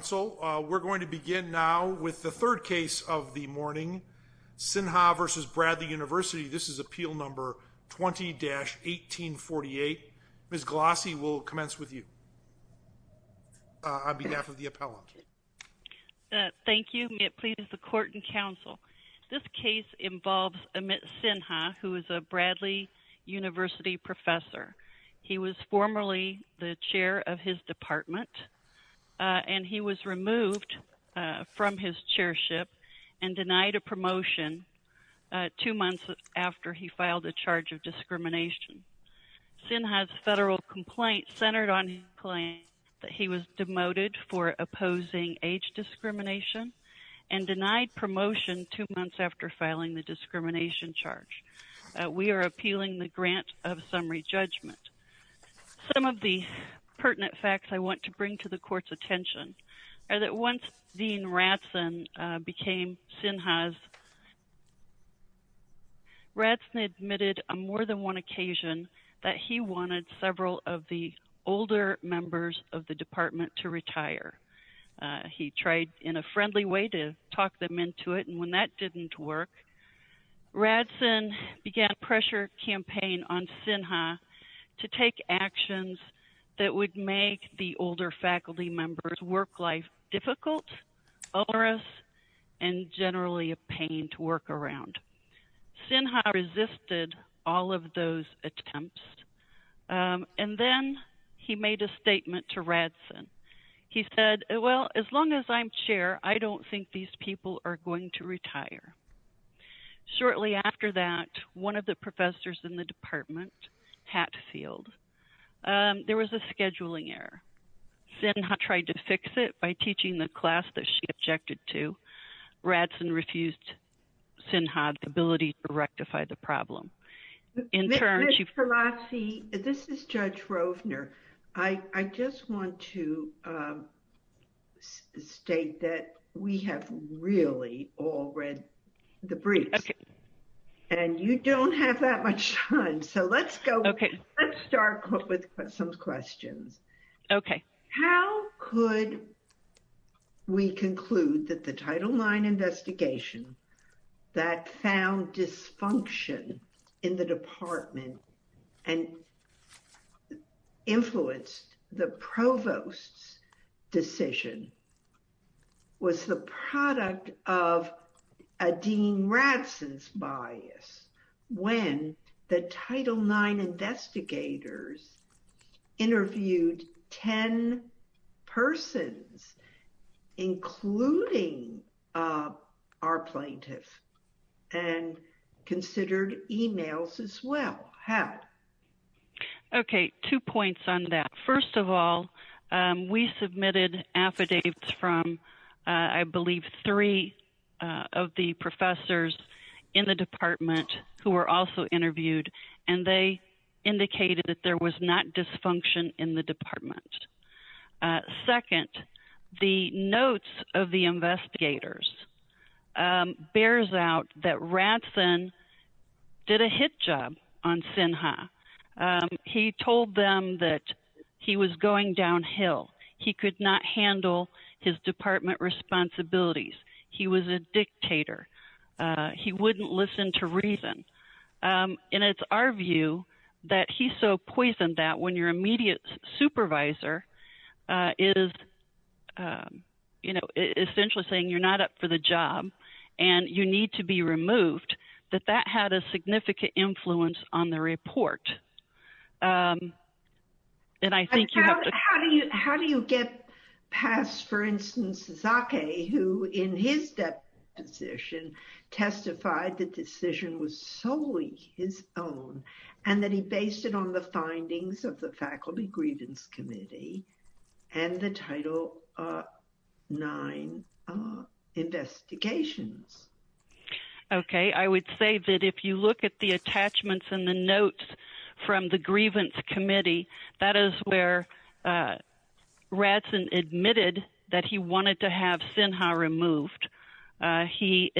Court and Council. We're going to begin now with the third case of the morning, Sinha v. Bradley University. This is appeal number 20-1848. Ms. Glossy, we'll commence with you on behalf of the appellant. Thank you. May it please the Court and Council. This case involves Amit Sinha, who is a Bradley University professor. He was formerly the chair of his department, and he was removed from his chairship and denied a promotion two months after he filed a charge of discrimination. Sinha's federal complaint centered on his claim that he was demoted for opposing age discrimination and denied promotion two months after filing the discrimination charge. We are appealing the grant of summary judgment. Some of the pertinent facts I want to bring to the Court's attention are that once Dean Radson became Sinha's, Radson admitted on more than one occasion that he wanted several of the older members of the department to retire. He tried in a friendly way to talk them into it, and when that didn't work, Radson began a pressure campaign on Sinha to take actions that would make the older faculty members' work life difficult, onerous, and generally a pain to work around. Sinha resisted all of those attempts, and then he made a statement to Radson. He said, well, as long as I'm chair, I don't think these people are going to retire. Shortly after that, one of the professors in the department, Hatfield, there was a scheduling error. Sinha tried to fix it by teaching the class that she objected to. Radson refused Sinha's ability to rectify the problem. Ms. Pelosi, this is Judge Rovner. I just want to state that we have really all read the briefs, and you don't have that much time, so let's start with some questions. Okay. Okay, two points on that. First of all, we submitted affidavits from, I believe, three of the professors in the department who were also interviewed, and they indicated that there was not dysfunction in the department. Second, the notes of the investigators bears out that Radson did a hit job on Sinha. He told them that he was going downhill. He could not handle his department responsibilities. He was a dictator. He wouldn't listen to reason. And it's our view that he so poisoned that when your immediate supervisor is essentially saying you're not up for the job and you need to be removed, that that had a significant influence on the report. How do you get past, for instance, Sasaki, who in his deposition testified the decision was solely his own, and that he based it on the findings of the Faculty Grievance Committee and the Title IX investigations? Okay. I would say that if you look at the attachments and the notes from the Grievance Committee, that is where Radson admitted that he wanted to have Sinha removed. He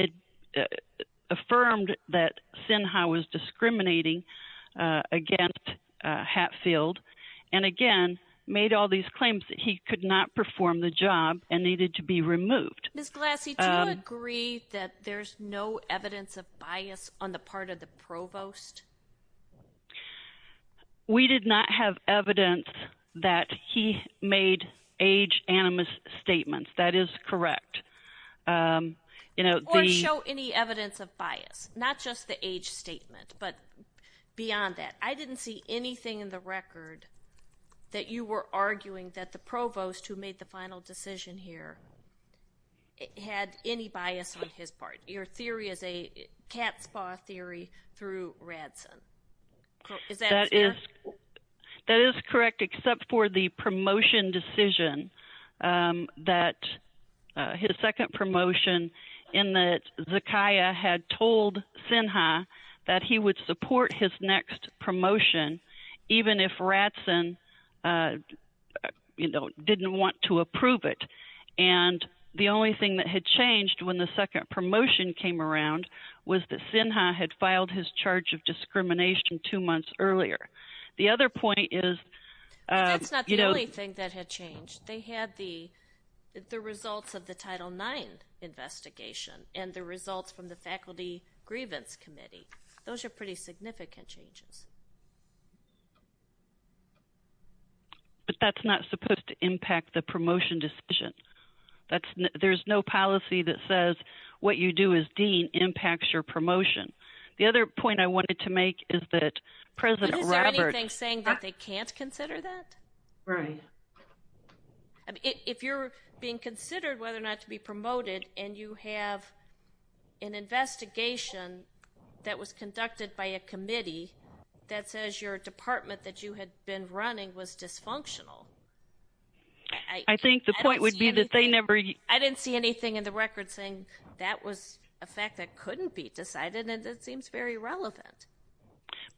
affirmed that Sinha was discriminating against Hatfield and, again, made all these claims that he could not perform the job and needed to be removed. Ms. Glassie, do you agree that there's no evidence of bias on the part of the provost? We did not have evidence that he made age-animous statements. That is correct. Or show any evidence of bias, not just the age statement, but beyond that. I didn't see anything in the record that you were arguing that the provost who made the final decision here had any bias on his part. Your theory is a cat's paw theory through Radson. Is that fair? That is correct, except for the promotion decision that his second promotion in that Zakiah had told Sinha that he would support his next promotion even if Radson didn't want to approve it. The only thing that had changed when the second promotion came around was that Sinha had filed his charge of discrimination two months earlier. That's not the only thing that had changed. They had the results of the Title IX investigation and the results from the Faculty Grievance Committee. Those are pretty significant changes. But that's not supposed to impact the promotion decision. There's no policy that says what you do as dean impacts your promotion. The other point I wanted to make is that President Roberts... Is there anything saying that they can't consider that? Right. If you're being considered whether or not to be promoted and you have an investigation that was conducted by a committee that says your department that you had been running was dysfunctional... I think the point would be that they never... I didn't see anything in the record saying that was a fact that couldn't be decided and it seems very relevant.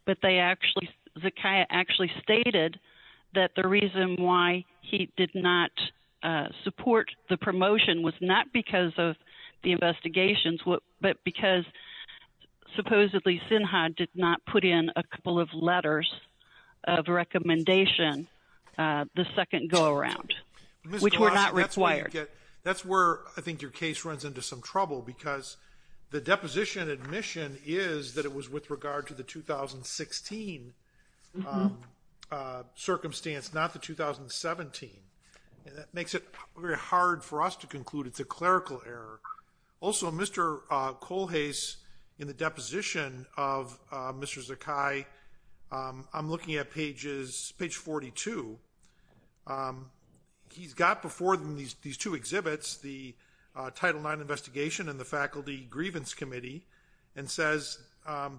But they actually... Zakiah actually stated that the reason why he did not support the promotion was not because of the investigations but because supposedly Sinha did not put in a couple of letters of recommendation the second go around. Which were not required. That's where I think your case runs into some trouble because the deposition admission is that it was with regard to the 2016 circumstance not the 2017. That makes it very hard for us to conclude it's a clerical error. Also Mr. Colhase in the deposition of Mr. Zakiah. I'm looking at pages page 42. He's got before them these two exhibits the title nine investigation and the faculty grievance committee and says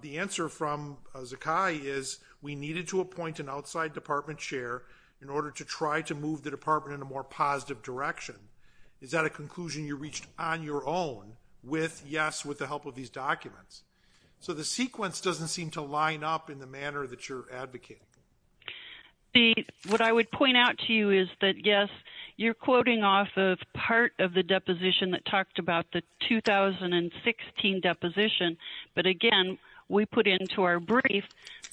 the answer from Zakiah is we needed to appoint an outside department chair in order to try to move the department in a more positive direction. Is that a conclusion you reached on your own with yes with the help of these documents. So the sequence doesn't seem to line up in the manner that you're advocating. What I would point out to you is that yes you're quoting off of part of the deposition that talked about the 2016 deposition. But again we put into our brief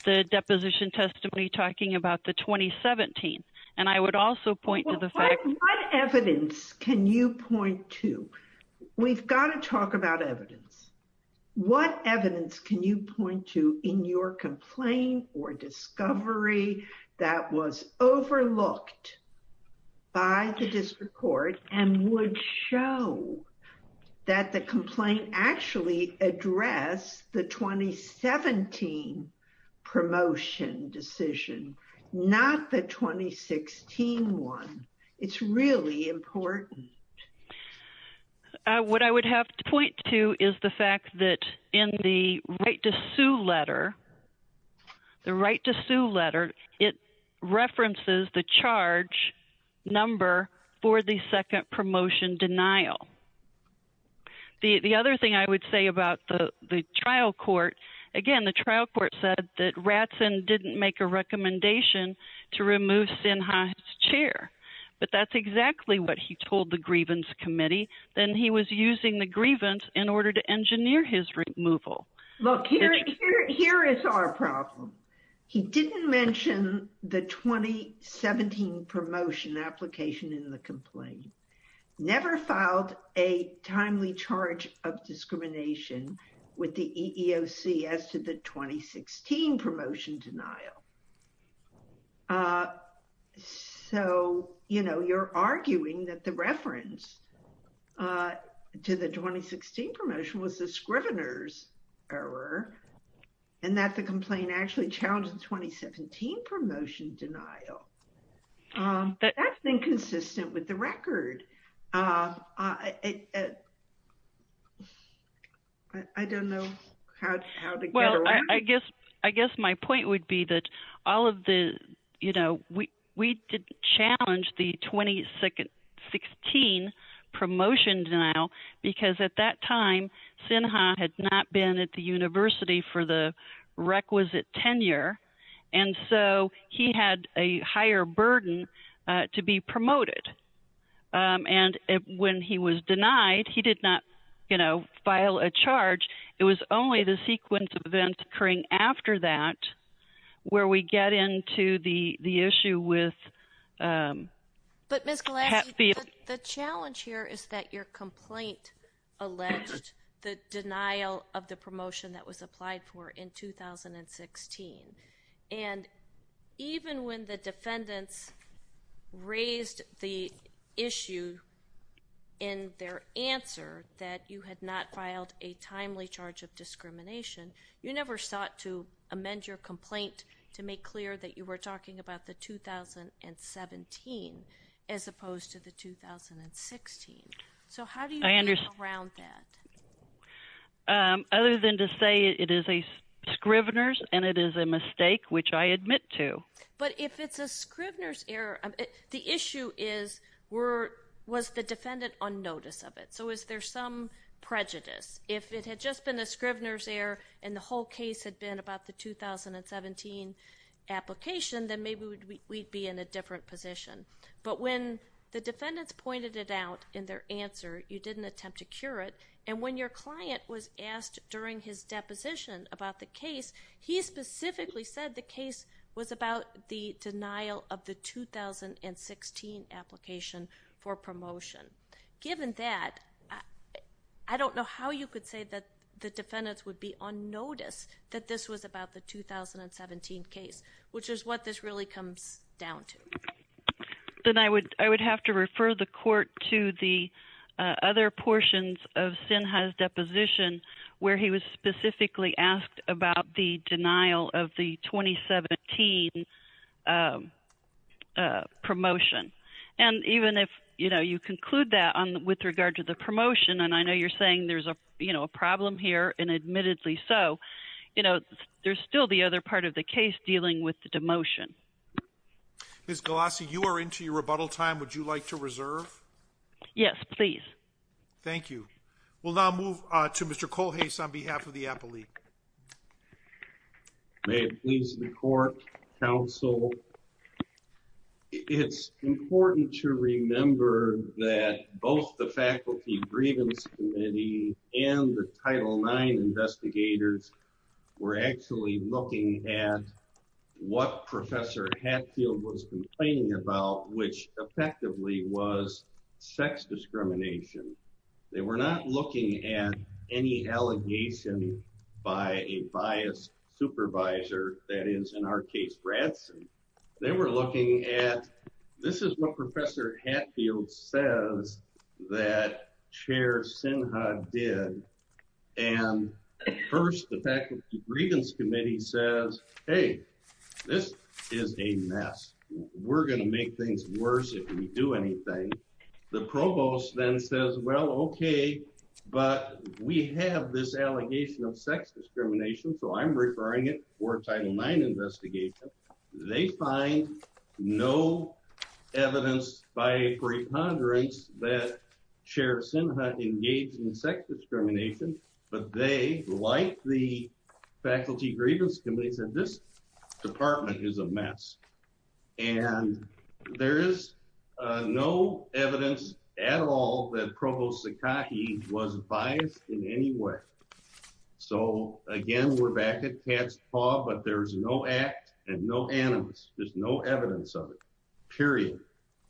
the deposition testimony talking about the 2017. And I would also point to the fact... What evidence can you point to? We've got to talk about evidence. What evidence can you point to in your complaint or discovery that was overlooked by the district court and would show that the complaint actually address the 2017 promotion decision. Not the 2016 one. It's really important. What I would have to point to is the fact that in the right to sue letter. The right to sue letter. It references the charge number for the second promotion denial. The other thing I would say about the trial court. Again the trial court said that Ratson didn't make a recommendation to remove Sinha's chair. But that's exactly what he told the grievance committee. Then he was using the grievance in order to engineer his removal. Look here is our problem. He didn't mention the 2017 promotion application in the complaint. Never filed a timely charge of discrimination with the EEOC as to the 2016 promotion denial. So you know you're arguing that the reference to the 2016 promotion was the Scrivener's error. And that the complaint actually challenged the 2017 promotion denial. That's inconsistent with the record. I don't know. Well I guess I guess my point would be that all of the you know we we did challenge the 2016 promotion denial because at that time Sinha had not been at the university for the requisite tenure. And so he had a higher burden to be promoted. And when he was denied he did not you know file a charge. It was only the sequence of events occurring after that where we get into the the issue with. But Miss Gillespie the challenge here is that your complaint alleged the denial of the promotion that was applied for in 2016. And even when the defendants raised the issue in their answer that you had not filed a timely charge of discrimination. You never sought to amend your complaint to make clear that you were talking about the 2017 as opposed to the 2016. So how do you round that. Other than to say it is a Scrivener's and it is a mistake which I admit to. But if it's a Scrivener's error the issue is were was the defendant on notice of it. So is there some prejudice. If it had just been a Scrivener's error and the whole case had been about the 2017 application then maybe we'd be in a different position. But when the defendants pointed it out in their answer you didn't attempt to cure it. And when your client was asked during his deposition about the case he specifically said the case was about the denial of the 2016 application for promotion. Given that I don't know how you could say that the defendants would be on notice that this was about the 2017 case which is what this really comes down to. Then I would I would have to refer the court to the other portions of Sinha's deposition where he was specifically asked about the denial of the 2017 promotion. And even if you know you conclude that on with regard to the promotion and I know you're saying there's a you know a problem here and admittedly so you know there's still the other part of the case dealing with the demotion. Ms. Galassi you are into your rebuttal time. Would you like to reserve. Yes please. Thank you. We'll now move to Mr. Cole Hayes on behalf of the appellee. May it please the court counsel. It's important to remember that both the faculty grievance committee and the title nine investigators were actually looking at what Professor Hatfield was complaining about which effectively was sex discrimination. They were not looking at any allegation by a biased supervisor that is in our case Branson. They were looking at this is what Professor Hatfield says that Chair Sinha did. And first the faculty grievance committee says hey this is a mess. We're going to make things worse if we do anything. The provost then says well OK but we have this allegation of sex discrimination so I'm referring it for a title nine investigation. They find no evidence by preponderance that Chair Sinha engaged in sex discrimination but they like the faculty grievance committee said this department is a mess. And there is no evidence at all that Provost Sakaki was biased in any way. So again we're back at cat's paw but there is no act and no evidence. There's no evidence of it period.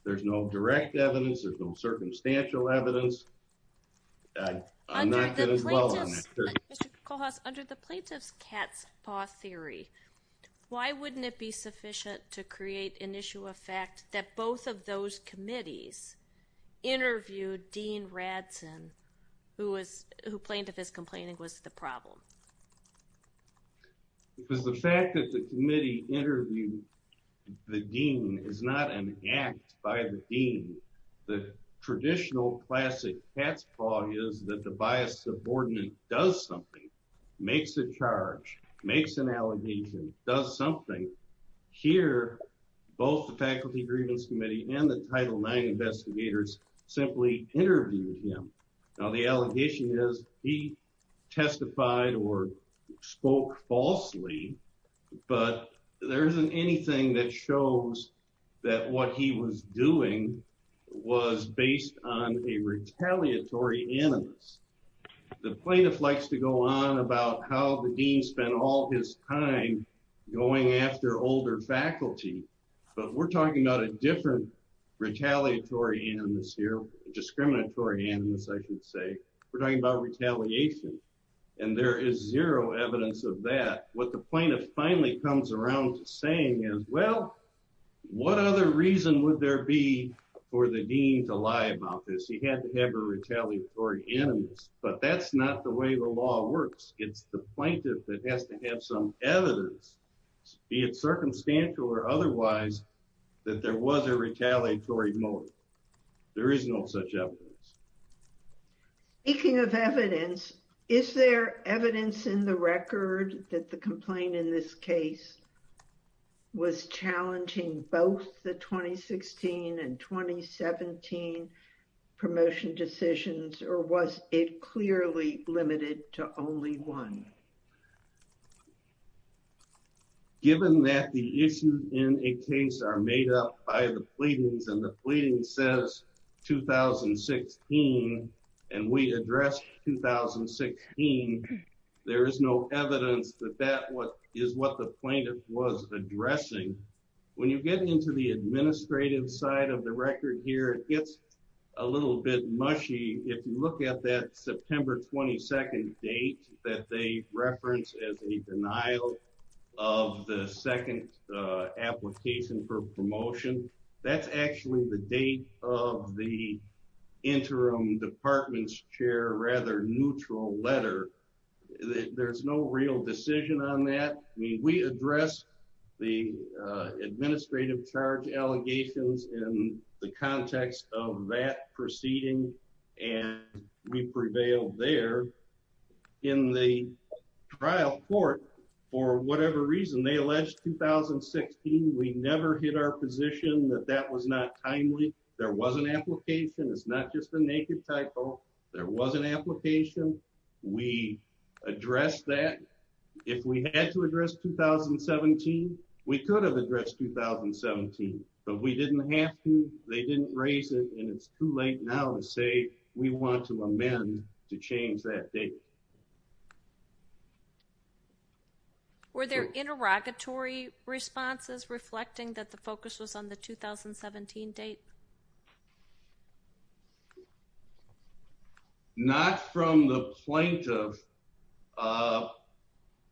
There's no direct evidence. There's no circumstantial evidence. Under the plaintiff's cat's paw theory why wouldn't it be sufficient to create an issue of fact that both of those committees interviewed Dean Radson who was who plaintiff is complaining was the problem. Because the fact that the committee interviewed the dean is not an act by the dean. The traditional classic cat's paw is that the biased subordinate does something, makes a charge, makes an allegation, does something. Here both the faculty grievance committee and the title nine investigators simply interviewed him. Now the allegation is he testified or spoke falsely but there isn't anything that shows that what he was doing was based on a retaliatory animus. The plaintiff likes to go on about how the dean spent all his time going after older faculty but we're talking about a different retaliatory animus here, discriminatory animus I should say. We're talking about retaliation and there is zero evidence of that. What the plaintiff finally comes around to saying is well what other reason would there be for the dean to lie about this. He had to have a retaliatory animus but that's not the way the law works. It's the plaintiff that has to have some evidence be it circumstantial or otherwise that there was a retaliatory motive. There is no such evidence. Speaking of evidence, is there evidence in the record that the complaint in this case was challenging both the 2016 and 2017 promotion decisions or was it clearly limited to only one? Given that the issues in a case are made up by the pleadings and the pleading says 2016 and we addressed 2016, there is no evidence that that is what the plaintiff was addressing. When you get into the administrative side of the record here, it gets a little bit mushy. If you look at that September 22nd date that they referenced as a denial of the second application for promotion, that's actually the date of the interim department's chair rather neutral letter. There's no real decision on that. We addressed the administrative charge allegations in the context of that proceeding and we prevailed there. In the trial court, for whatever reason, they alleged 2016. We never hit our position that that was not timely. There was an application. It's not just a naked typo. There was an application. We addressed that. If we had to address 2017, we could have addressed 2017, but we didn't have to. They didn't raise it and it's too late now to say we want to amend to change that date. Were there interrogatory responses reflecting that the focus was on the 2017 date? Not from the plaintiff.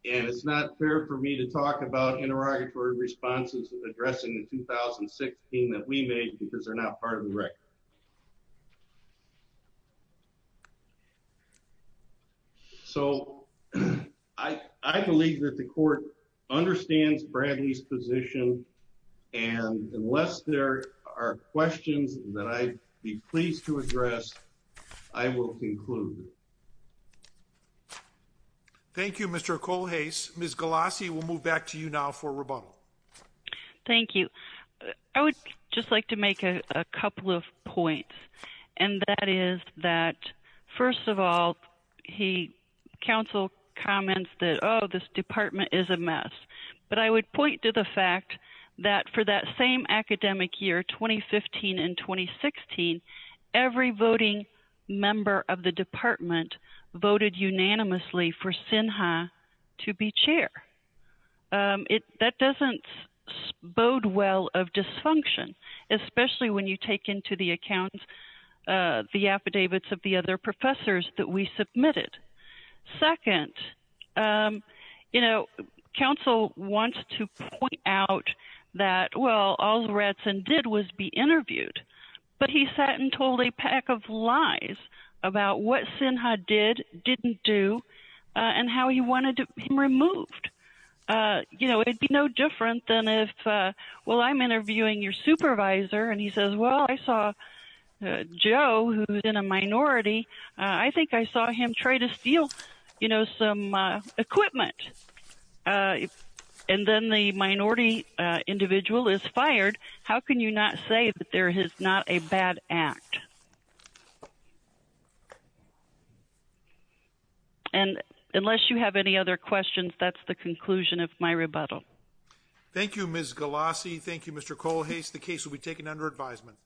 And it's not fair for me to talk about interrogatory responses addressing the 2016 that we made because they're not part of the record. So, I believe that the court understands Bradley's position. And unless there are questions that I'd be pleased to address, I will conclude. Thank you, Mr. Cole. Hayes. Ms. Galassi will move back to you now for rebuttal. Thank you. I would just like to make a couple of points. And that is that, first of all, the counsel comments that, oh, this department is a mess. But I would point to the fact that for that same academic year, 2015 and 2016, every voting member of the department voted unanimously for SINHA to be chair. That doesn't bode well of dysfunction, especially when you take into the account the affidavits of the other professors that we submitted. Second, you know, counsel wants to point out that, well, all Radson did was be interviewed. But he sat and told a pack of lies about what SINHA did, didn't do, and how he wanted him removed. You know, it would be no different than if, well, I'm interviewing your supervisor, and he says, well, I saw Joe, who's in a minority, I think I saw him try to steal, you know, some equipment. And then the minority individual is fired. How can you not say that there is not a bad act? And unless you have any other questions, that's the conclusion of my rebuttal. Thank you, Ms. Galassi. Thank you, Mr. Kohlhase. The case will be taken under advisement.